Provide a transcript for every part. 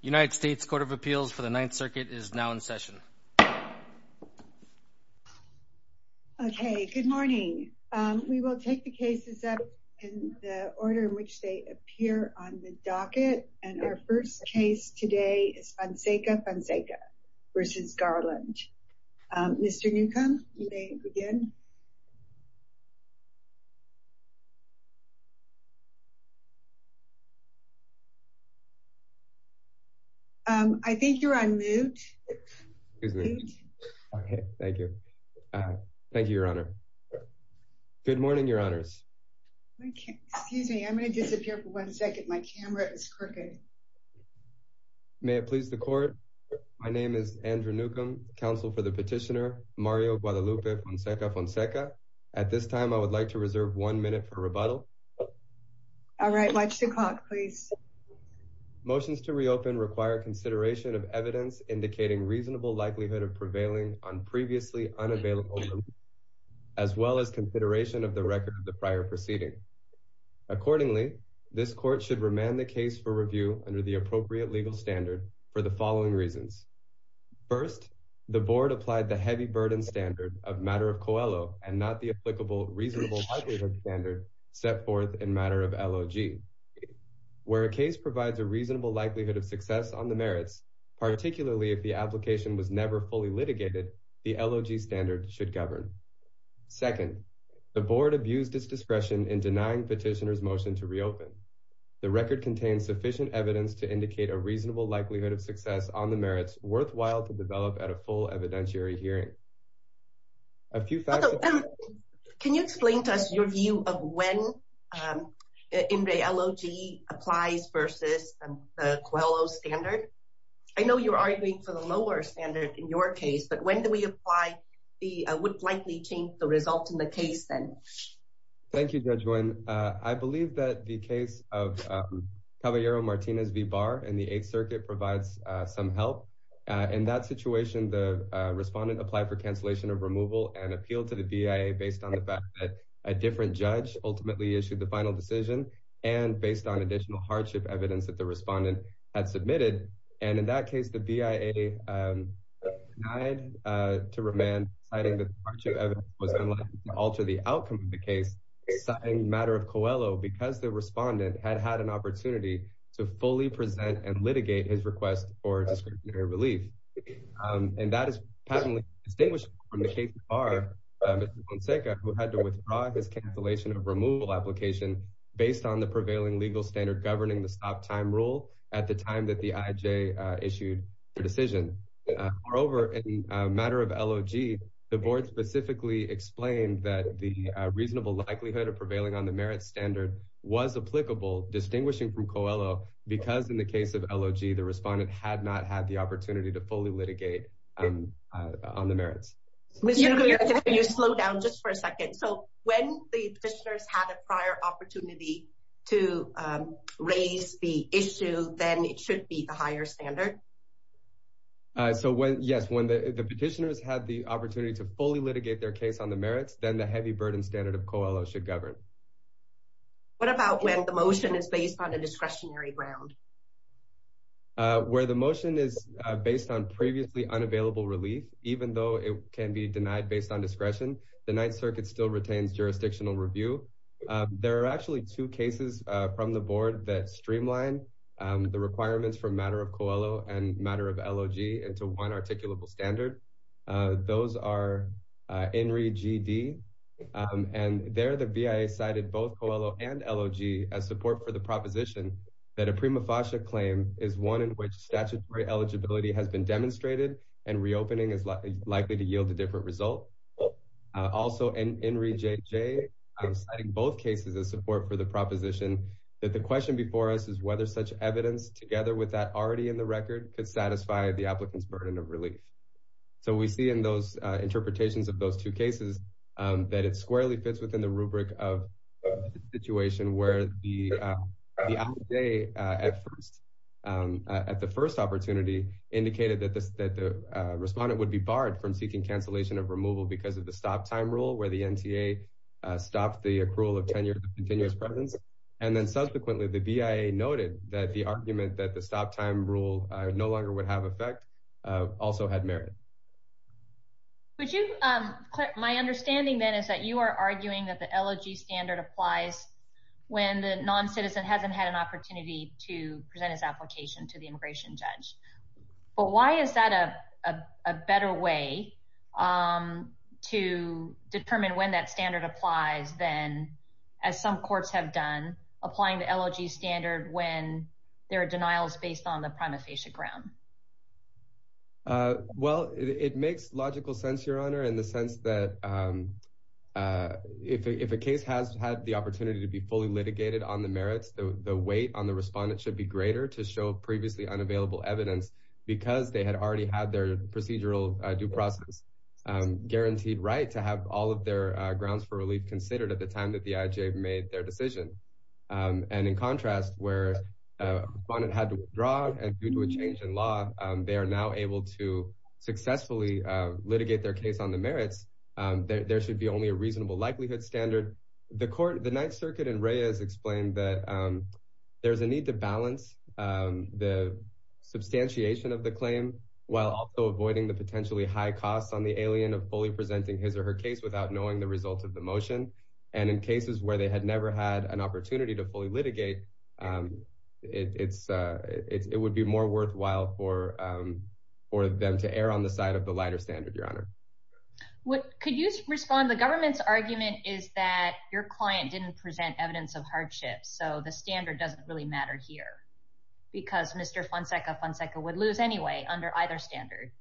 United States Court of Appeals for the Ninth Circuit is now in session. Okay, good morning. We will take the cases up in the order in which they appear on the docket. And our first case today is Fonseca-Fonseca v. Garland. Mr. Newcomb, you may begin. I think you're on mute. Excuse me. Thank you. Thank you, Your Honor. Good morning, Your Honors. Excuse me. I'm going to disappear for one second. My camera is crooked. May it please the court. My name is Andrew Newcomb, counsel for the petitioner Mario Guadalupe Fonseca-Fonseca. At this time, I would like to reserve one minute for rebuttal. All right. Watch the clock, please. Motions to reopen require consideration of evidence indicating reasonable likelihood of prevailing on previously unavailable, as well as consideration of the record of the prior proceeding. Accordingly, this court should remand the case for review under the appropriate legal standard for the following reasons. First, the board applied the heavy burden standard of matter of COELO and not the applicable reasonable likelihood standard set forth in matter of LOG. Where a case provides a reasonable likelihood of success on the merits, particularly if the application was never fully litigated, the LOG standard should govern. Second, the board abused its discretion in denying petitioner's motion to reopen. The record contains sufficient evidence to indicate a reasonable likelihood of success on the merits worthwhile to develop at a full evidentiary hearing. A few facts. Can you explain to us your view of when in the LOG applies versus the COELO standard? I know you're arguing for the lower standard in your case, but when do we apply the would likely change the results in the case then? Thank you, Judge Nguyen. I believe that the case of Caballero-Martinez v. Barr in the Eighth Circuit provides some help. In that situation, the respondent applied for cancellation of removal and appealed to the BIA based on the fact that a different judge ultimately issued the final decision and based on additional hardship evidence that the respondent had submitted. In that case, the BIA denied to remand, citing that the hardship evidence was unlikely to alter the outcome of the case, citing the matter of COELO because the respondent had had an opportunity to fully present and litigate his request for discretionary relief. And that is patently distinguished from the case of Barr v. Monseca, who had to withdraw his cancellation of removal application based on the prevailing legal standard governing the stop time rule at the time that the IJ issued the decision. Moreover, in the matter of LOG, the board specifically explained that the reasonable likelihood of prevailing on the merit standard was applicable, distinguishing from COELO, because in the case of LOG, the respondent had not had the opportunity to fully litigate on the merits. When the petitioners had a prior opportunity to raise the issue, then it should be the higher standard? Yes, when the petitioners had the opportunity to fully litigate their case on the merits, then the heavy burden standard of COELO should govern. What about when the motion is based on a discretionary ground? Where the motion is based on previously unavailable relief, even though it can be denied based on discretion, the Ninth Circuit still retains jurisdictional review. There are actually two cases from the board that streamline the requirements for matter of COELO and matter of LOG into one articulable standard. Those are INRI G.D. and there the BIA cited both COELO and LOG as support for the proposition that a prima facie claim is one in which statutory eligibility has been demonstrated and reopening is likely to yield a different result. Also, INRI J.J. cited both cases as support for the proposition that the question before us is whether such evidence together with that already in the record could satisfy the applicant's burden of relief. So we see in those interpretations of those two cases that it squarely fits within the rubric of the situation where the applicant at the first opportunity indicated that the respondent would be barred from seeking cancellation of removal because of the stop time rule where the NTA stopped the accrual of 10 years of continuous presence. And then subsequently the BIA noted that the argument that the stop time rule no longer would have effect also had merit. My understanding then is that you are arguing that the LOG standard applies when the non-citizen hasn't had an opportunity to present his application to the immigration judge. But why is that a better way to determine when that standard applies than as some courts have done applying the LOG standard when there are denials based on the prima facie ground? Well, it makes logical sense, Your Honor, in the sense that if a case has had the opportunity to be fully litigated on the merits, the weight on the respondent should be greater to show previously unavailable evidence because they had already had their procedural due process guaranteed right to have all of their grounds for relief considered at the time that the IHA made their decision. And in contrast, where a respondent had to withdraw due to a change in law, they are now able to successfully litigate their case on the merits. There should be only a reasonable likelihood standard. The Ninth Circuit in Reyes explained that there's a need to balance the substantiation of the claim while also avoiding the potentially high costs on the alien of fully presenting his or her case without knowing the results of the motion. And in cases where they had never had an opportunity to fully litigate, it would be more worthwhile for them to err on the side of the lighter standard, Your Honor. Could you respond? The government's argument is that your client didn't present evidence of hardship. So the standard doesn't really matter here because Mr. Fonseca, Fonseca would lose anyway under either standard.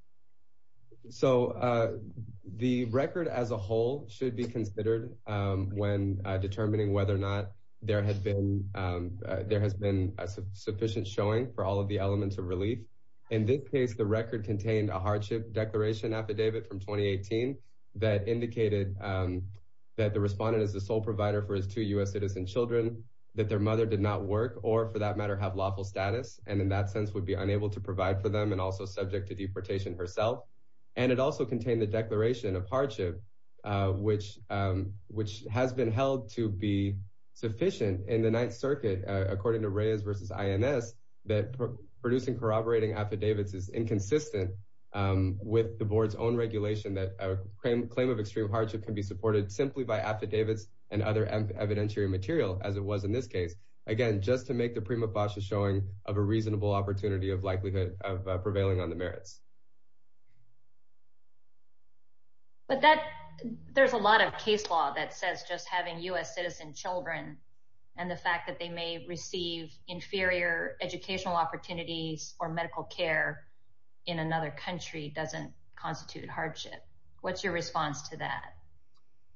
So the record as a whole should be considered when determining whether or not there has been there has been a sufficient showing for all of the elements of relief. In this case, the record contained a hardship declaration affidavit from 2018 that indicated that the respondent is the sole provider for his two U.S. citizen children, that their mother did not work or for that matter, have lawful status. And in that sense would be unable to provide for them and also subject to deportation herself. And it also contained the declaration of hardship, which which has been held to be sufficient in the Ninth Circuit, according to Reyes versus INS, that producing corroborating affidavits is inconsistent with the board's own regulation that claim of extreme hardship can be supported simply by affidavits and other evidentiary material, as it was in this case. Again, just to make the prima basha showing of a reasonable opportunity of likelihood of prevailing on the merits. But that there's a lot of case law that says just having U.S. citizen children and the fact that they may receive inferior educational opportunities or medical care in another country doesn't constitute hardship. What's your response to that?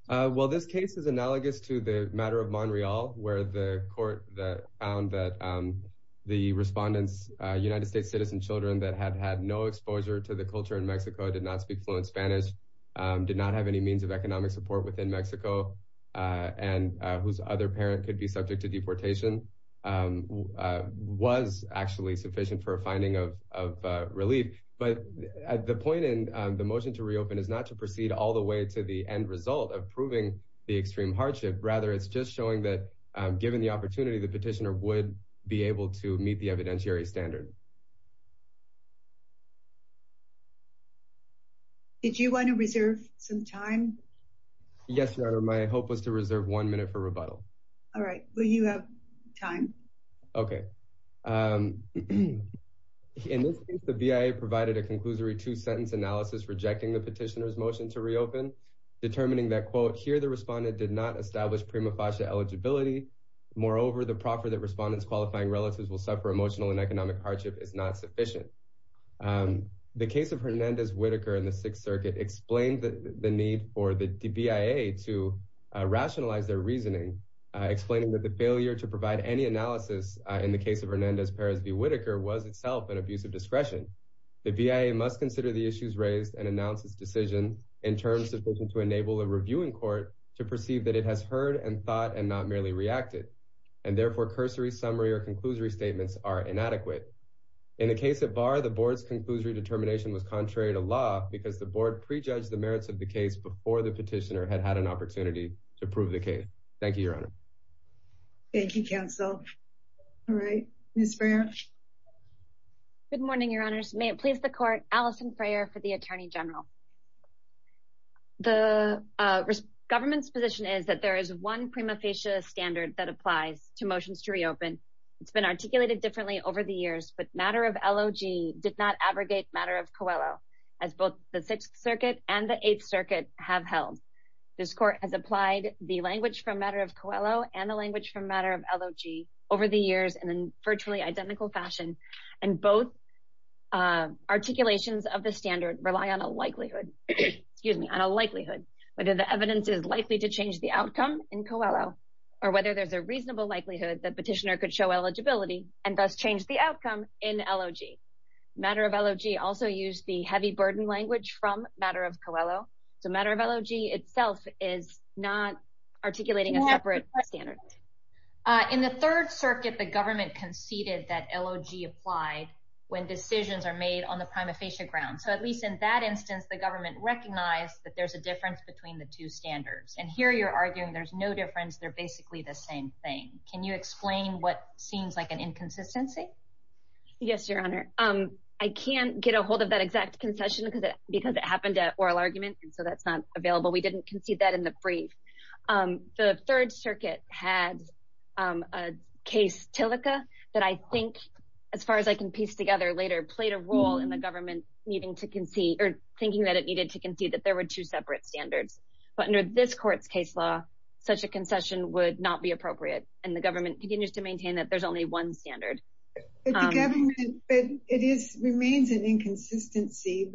Well, this case is analogous to the matter of Montreal, where the court that found that the respondents, United States citizen children that had had no exposure to the culture in Mexico, did not speak fluent Spanish, did not have any means of economic support within Mexico and whose other parent could be subject to deportation, was actually sufficient for a finding of relief. But the point in the motion to reopen is not to proceed all the way to the end result of proving the extreme hardship. Rather, it's just showing that given the opportunity, the petitioner would be able to meet the evidentiary standard. Did you want to reserve some time? Yes, my hope was to reserve one minute for rebuttal. All right. Well, you have time. Okay. In this case, the BIA provided a conclusory two-sentence analysis rejecting the petitioner's motion to reopen, determining that, quote, here the respondent did not establish prima facie eligibility. Moreover, the proffer that respondents qualifying relatives will suffer emotional and economic hardship is not sufficient. The case of Hernandez-Whitaker in the Sixth Circuit explained the need for the BIA to rationalize their reasoning, explaining that the failure to provide any analysis in the case of Hernandez-Perez v. Whitaker was itself an abuse of discretion. The BIA must consider the issues raised and announce its decision in terms sufficient to enable a reviewing court to perceive that it has heard and thought and not merely reacted, and therefore cursory summary or conclusory statements are inadequate. In the case of Barr, the board's conclusory determination was contrary to law because the board prejudged the merits of the case before the petitioner had had an opportunity to prove the case. Thank you, Your Honor. Thank you, counsel. All right. Ms. Freer. Good morning, Your Honors. May it please the court, Alison Freer for the Attorney General. The government's position is that there is one prima facie standard that applies to motions to reopen. It's been articulated differently over the years, but Matter of LOG did not abrogate Matter of Coelho, as both the Sixth Circuit and the Eighth Circuit have held. This court has applied the language from Matter of Coelho and the language from Matter of LOG over the years in a virtually identical fashion, and both articulations of the standard rely on a likelihood, excuse me, on a likelihood. Whether the evidence is likely to change the outcome in Coelho or whether there's a reasonable likelihood that petitioner could show eligibility and thus change the outcome in LOG. Matter of LOG also used the heavy burden language from Matter of Coelho, so Matter of LOG itself is not articulating a separate standard. In the Third Circuit, the government conceded that LOG applied when decisions are made on the prima facie ground. So at least in that instance, the government recognized that there's a difference between the two standards. And here you're arguing there's no difference, they're basically the same thing. Can you explain what seems like an inconsistency? Yes, Your Honor. I can't get a hold of that exact concession because it happened at oral argument, and so that's not available. We didn't concede that in the brief. The Third Circuit had a case, Tillica, that I think, as far as I can piece together later, played a role in the government thinking that it needed to concede that there were two separate standards. But under this court's case law, such a concession would not be appropriate, and the government continues to maintain that there's only one standard. But the government, it remains an inconsistency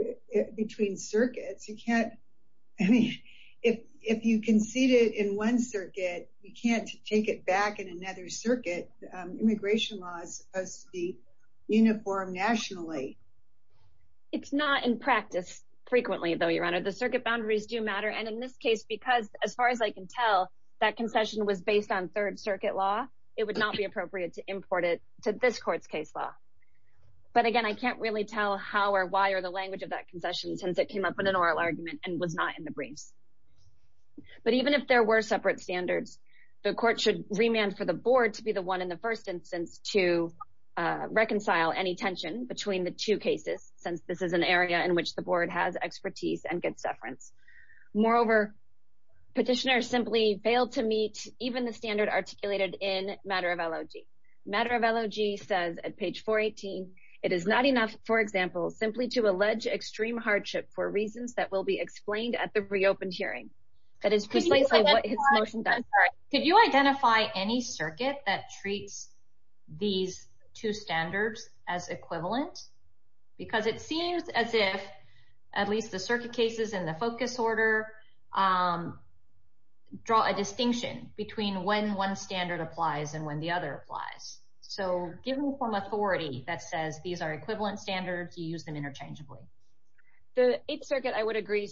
between circuits. You can't, I mean, if you concede it in one circuit, you can't take it back in another circuit. Immigration law is supposed to be uniform nationally. It's not in practice frequently, though, Your Honor. The circuit boundaries do matter. And in this case, because, as far as I can tell, that concession was based on Third Circuit law, it would not be appropriate to import it to this court's case law. But again, I can't really tell how or why or the language of that concession since it came up in an oral argument and was not in the briefs. But even if there were separate standards, the court should remand for the board to be the one in the first instance to reconcile any tension between the two cases, since this is an area in which the board has expertise and good severance. Moreover, petitioners simply failed to meet even the standard articulated in matter of LOG. Matter of LOG says at page 418, it is not enough, for example, simply to allege extreme hardship for reasons that will be explained at the reopened hearing. That is precisely what his motion does. Could you identify any circuit that treats these two standards as equivalent? Because it seems as if at least the circuit cases in the focus order draw a distinction between when one standard applies and when the other applies. So given some authority that says these are equivalent standards, you use them interchangeably. The Eighth Circuit, I would agree,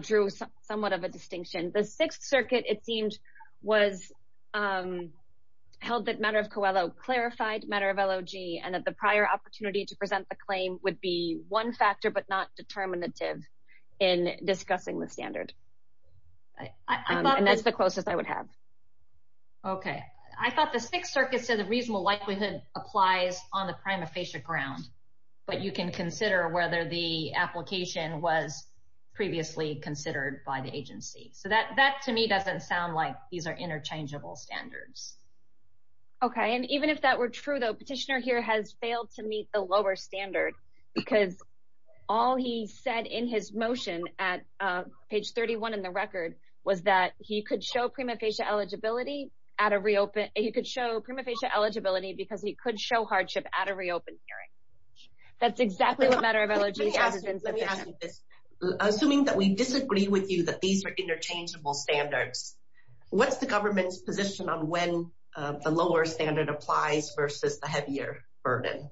drew somewhat of a distinction. The Sixth Circuit, it seemed, held that matter of COELO clarified matter of LOG and that the prior opportunity to present the claim would be one factor but not determinative in discussing the standard. And that's the closest I would have. Okay. I thought the Sixth Circuit said the reasonable likelihood applies on the prima facie ground. But you can consider whether the application was previously considered by the agency. So that to me doesn't sound like these are interchangeable standards. Okay. And even if that were true, the petitioner here has failed to meet the lower standard because all he said in his motion at page 31 in the record was that he could show prima facie eligibility because he could show hardship at a reopened hearing. That's exactly what matter of LOG has been said. Let me ask you this. Assuming that we disagree with you that these are interchangeable standards, what's the government's position on when the lower standard applies versus the heavier burden?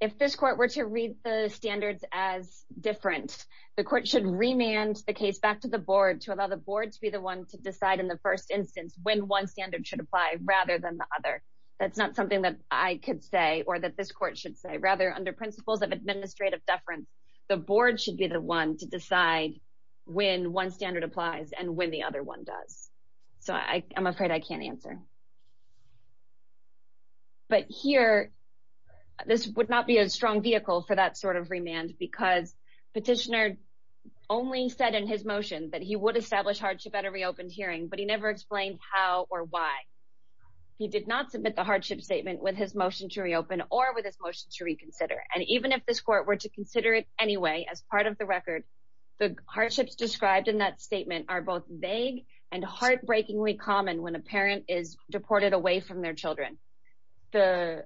If this court were to read the standards as different, the court should remand the case back to the board to allow the board to be the one to decide in the first instance when one standard should apply rather than the other. That's not something that I could say or that this court should say. Rather, under principles of administrative deference, the board should be the one to decide when one standard applies and when the other one does. So I'm afraid I can't answer. But here, this would not be a strong vehicle for that sort of remand because petitioner only said in his motion that he would establish hardship at a reopened hearing, but he never explained how or why. He did not submit the hardship statement with his motion to reopen or with his motion to reconsider. And even if this court were to consider it anyway as part of the record, the hardships described in that statement are both vague and heartbreakingly common when a parent is deported away from their children. The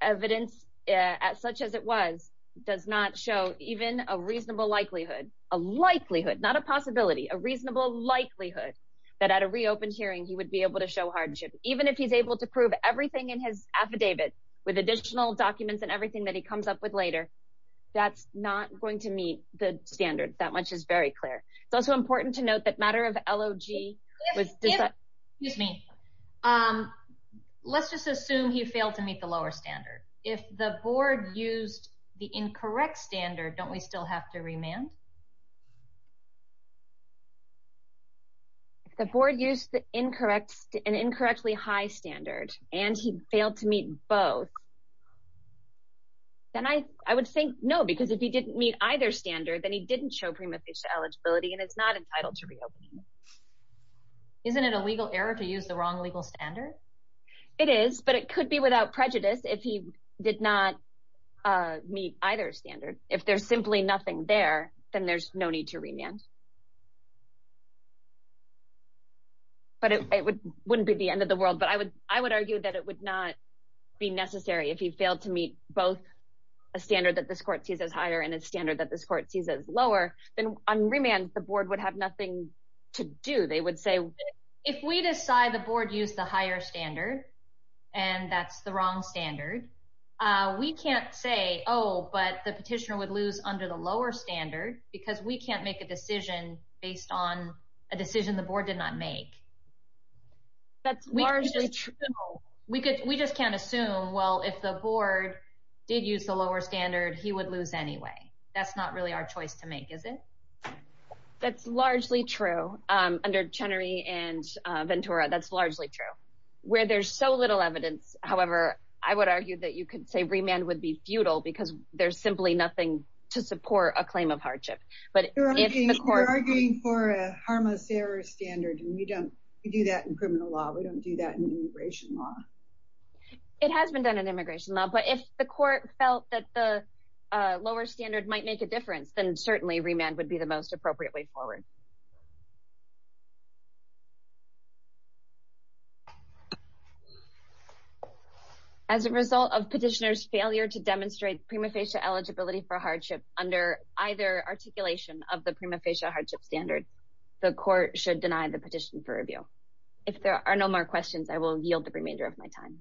evidence, as such as it was, does not show even a reasonable likelihood, a likelihood, not a possibility, a reasonable likelihood that at a reopened hearing he would be able to show hardship. Even if he's able to prove everything in his affidavit with additional documents and everything that he comes up with later, that's not going to meet the standard. That much is very clear. It's also important to note that matter of L.O.G. Excuse me. Let's just assume he failed to meet the lower standard. If the board used the incorrect standard, don't we still have to remand? If the board used an incorrectly high standard and he failed to meet both, then I would say no, because if he didn't meet either standard, then he didn't show prima facie eligibility and is not entitled to reopening. Isn't it a legal error to use the wrong legal standard? It is, but it could be without prejudice if he did not meet either standard. If there's simply nothing there, then there's no need to remand. But it wouldn't be the end of the world, but I would argue that it would not be necessary if he failed to meet both a standard that this court sees as higher and a standard that this court sees as lower. Then on remand, the board would have nothing to do. They would say if we decide the board used the higher standard and that's the wrong standard, we can't say, oh, but the petitioner would lose under the lower standard because we can't make a decision based on a decision the board did not make. That's largely true. We could. We just can't assume. Well, if the board did use the lower standard, he would lose anyway. That's not really our choice to make, is it? That's largely true under Chenery and Ventura. That's largely true where there's so little evidence. However, I would argue that you could say remand would be futile because there's simply nothing to support a claim of hardship. But if the court is arguing for a harmless error standard and we don't do that in criminal law, we don't do that in immigration law. It has been done in immigration law, but if the court felt that the lower standard might make a difference, then certainly remand would be the most appropriate way forward. As a result of petitioner's failure to demonstrate prima facie eligibility for hardship under either articulation of the prima facie hardship standard, the court should deny the petition for review. If there are no more questions, I will yield the remainder of my time.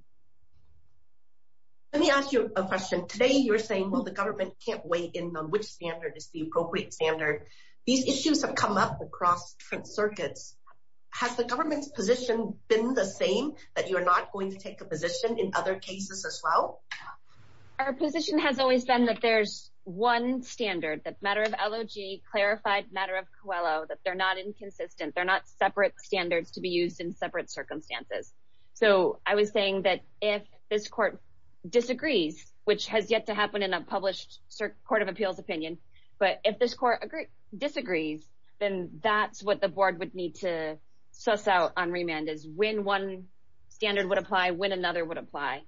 Let me ask you a question. Today, you're saying, well, the government can't weigh in on which standard is the appropriate standard. These issues have come up across different circuits. Has the government's position been the same, that you're not going to take a position in other cases as well? Our position has always been that there's one standard, that matter of LOG, clarified matter of COELO, that they're not inconsistent. They're not separate standards to be used in separate circumstances. So I was saying that if this court disagrees, which has yet to happen in a published court of appeals opinion, but if this court disagrees, then that's what the board would need to suss out on remand is when one standard would apply, when another would apply.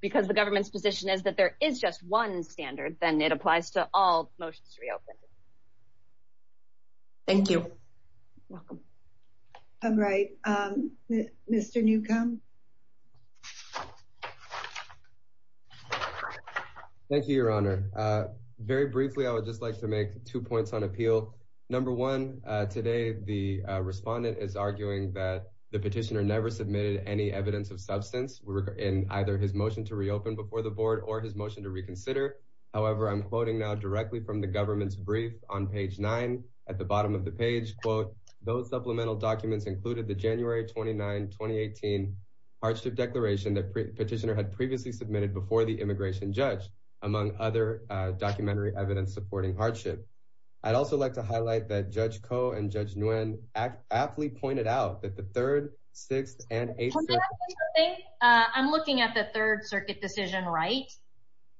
Because the government's position is that there is just one standard, then it applies to all motions to reopen. Thank you. You're welcome. All right, Mr. Newcomb. Thank you, Your Honor. Very briefly, I would just like to make two points on appeal. Number one, today, the respondent is arguing that the petitioner never submitted any evidence of substance in either his motion to reopen before the board or his motion to reconsider. However, I'm quoting now directly from the government's brief on page nine. At the bottom of the page, quote, those supplemental documents included the January 29, 2018 hardship declaration that petitioner had previously submitted before the immigration judge, among other documentary evidence supporting hardship. I'd also like to highlight that Judge Koh and Judge Nguyen aptly pointed out that the Third, Sixth, and Eighth Circuit…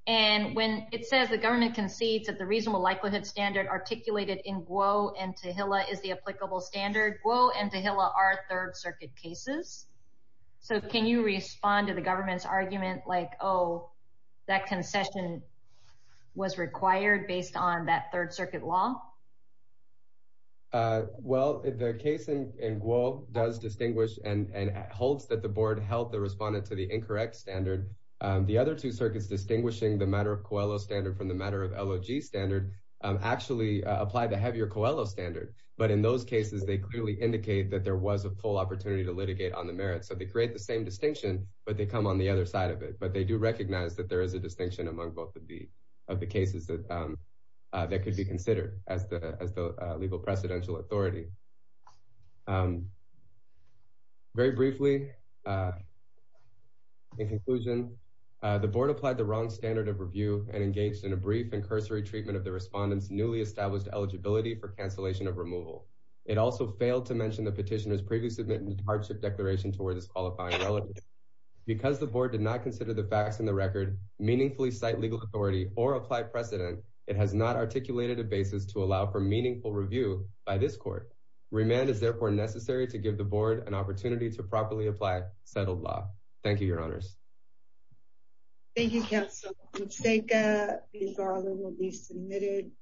And when it says the government concedes that the reasonable likelihood standard articulated in Guo and Tehillah is the applicable standard, Guo and Tehillah are Third Circuit cases. So can you respond to the government's argument like, oh, that concession was required based on that Third Circuit law? Well, the case in Guo does distinguish and holds that the board held the respondent to the incorrect standard. The other two circuits distinguishing the matter of Coelho standard from the matter of LOG standard actually applied the heavier Coelho standard. But in those cases, they clearly indicate that there was a full opportunity to litigate on the merits. So they create the same distinction, but they come on the other side of it. But they do recognize that there is a distinction among both of the cases that could be considered as the legal precedential authority. Very briefly, in conclusion, the board applied the wrong standard of review and engaged in a brief and cursory treatment of the respondent's newly established eligibility for cancellation of removal. It also failed to mention the petitioner's previously submitted hardship declaration towards his qualifying relatives. Because the board did not consider the facts in the record meaningfully cite legal authority or apply precedent, it has not articulated a basis to allow for meaningful review by this court. Remand is therefore necessary to give the board an opportunity to properly apply settled law. Thank you, your honors. Thank you, counsel. Ms. Zeka, these are all that will be submitted.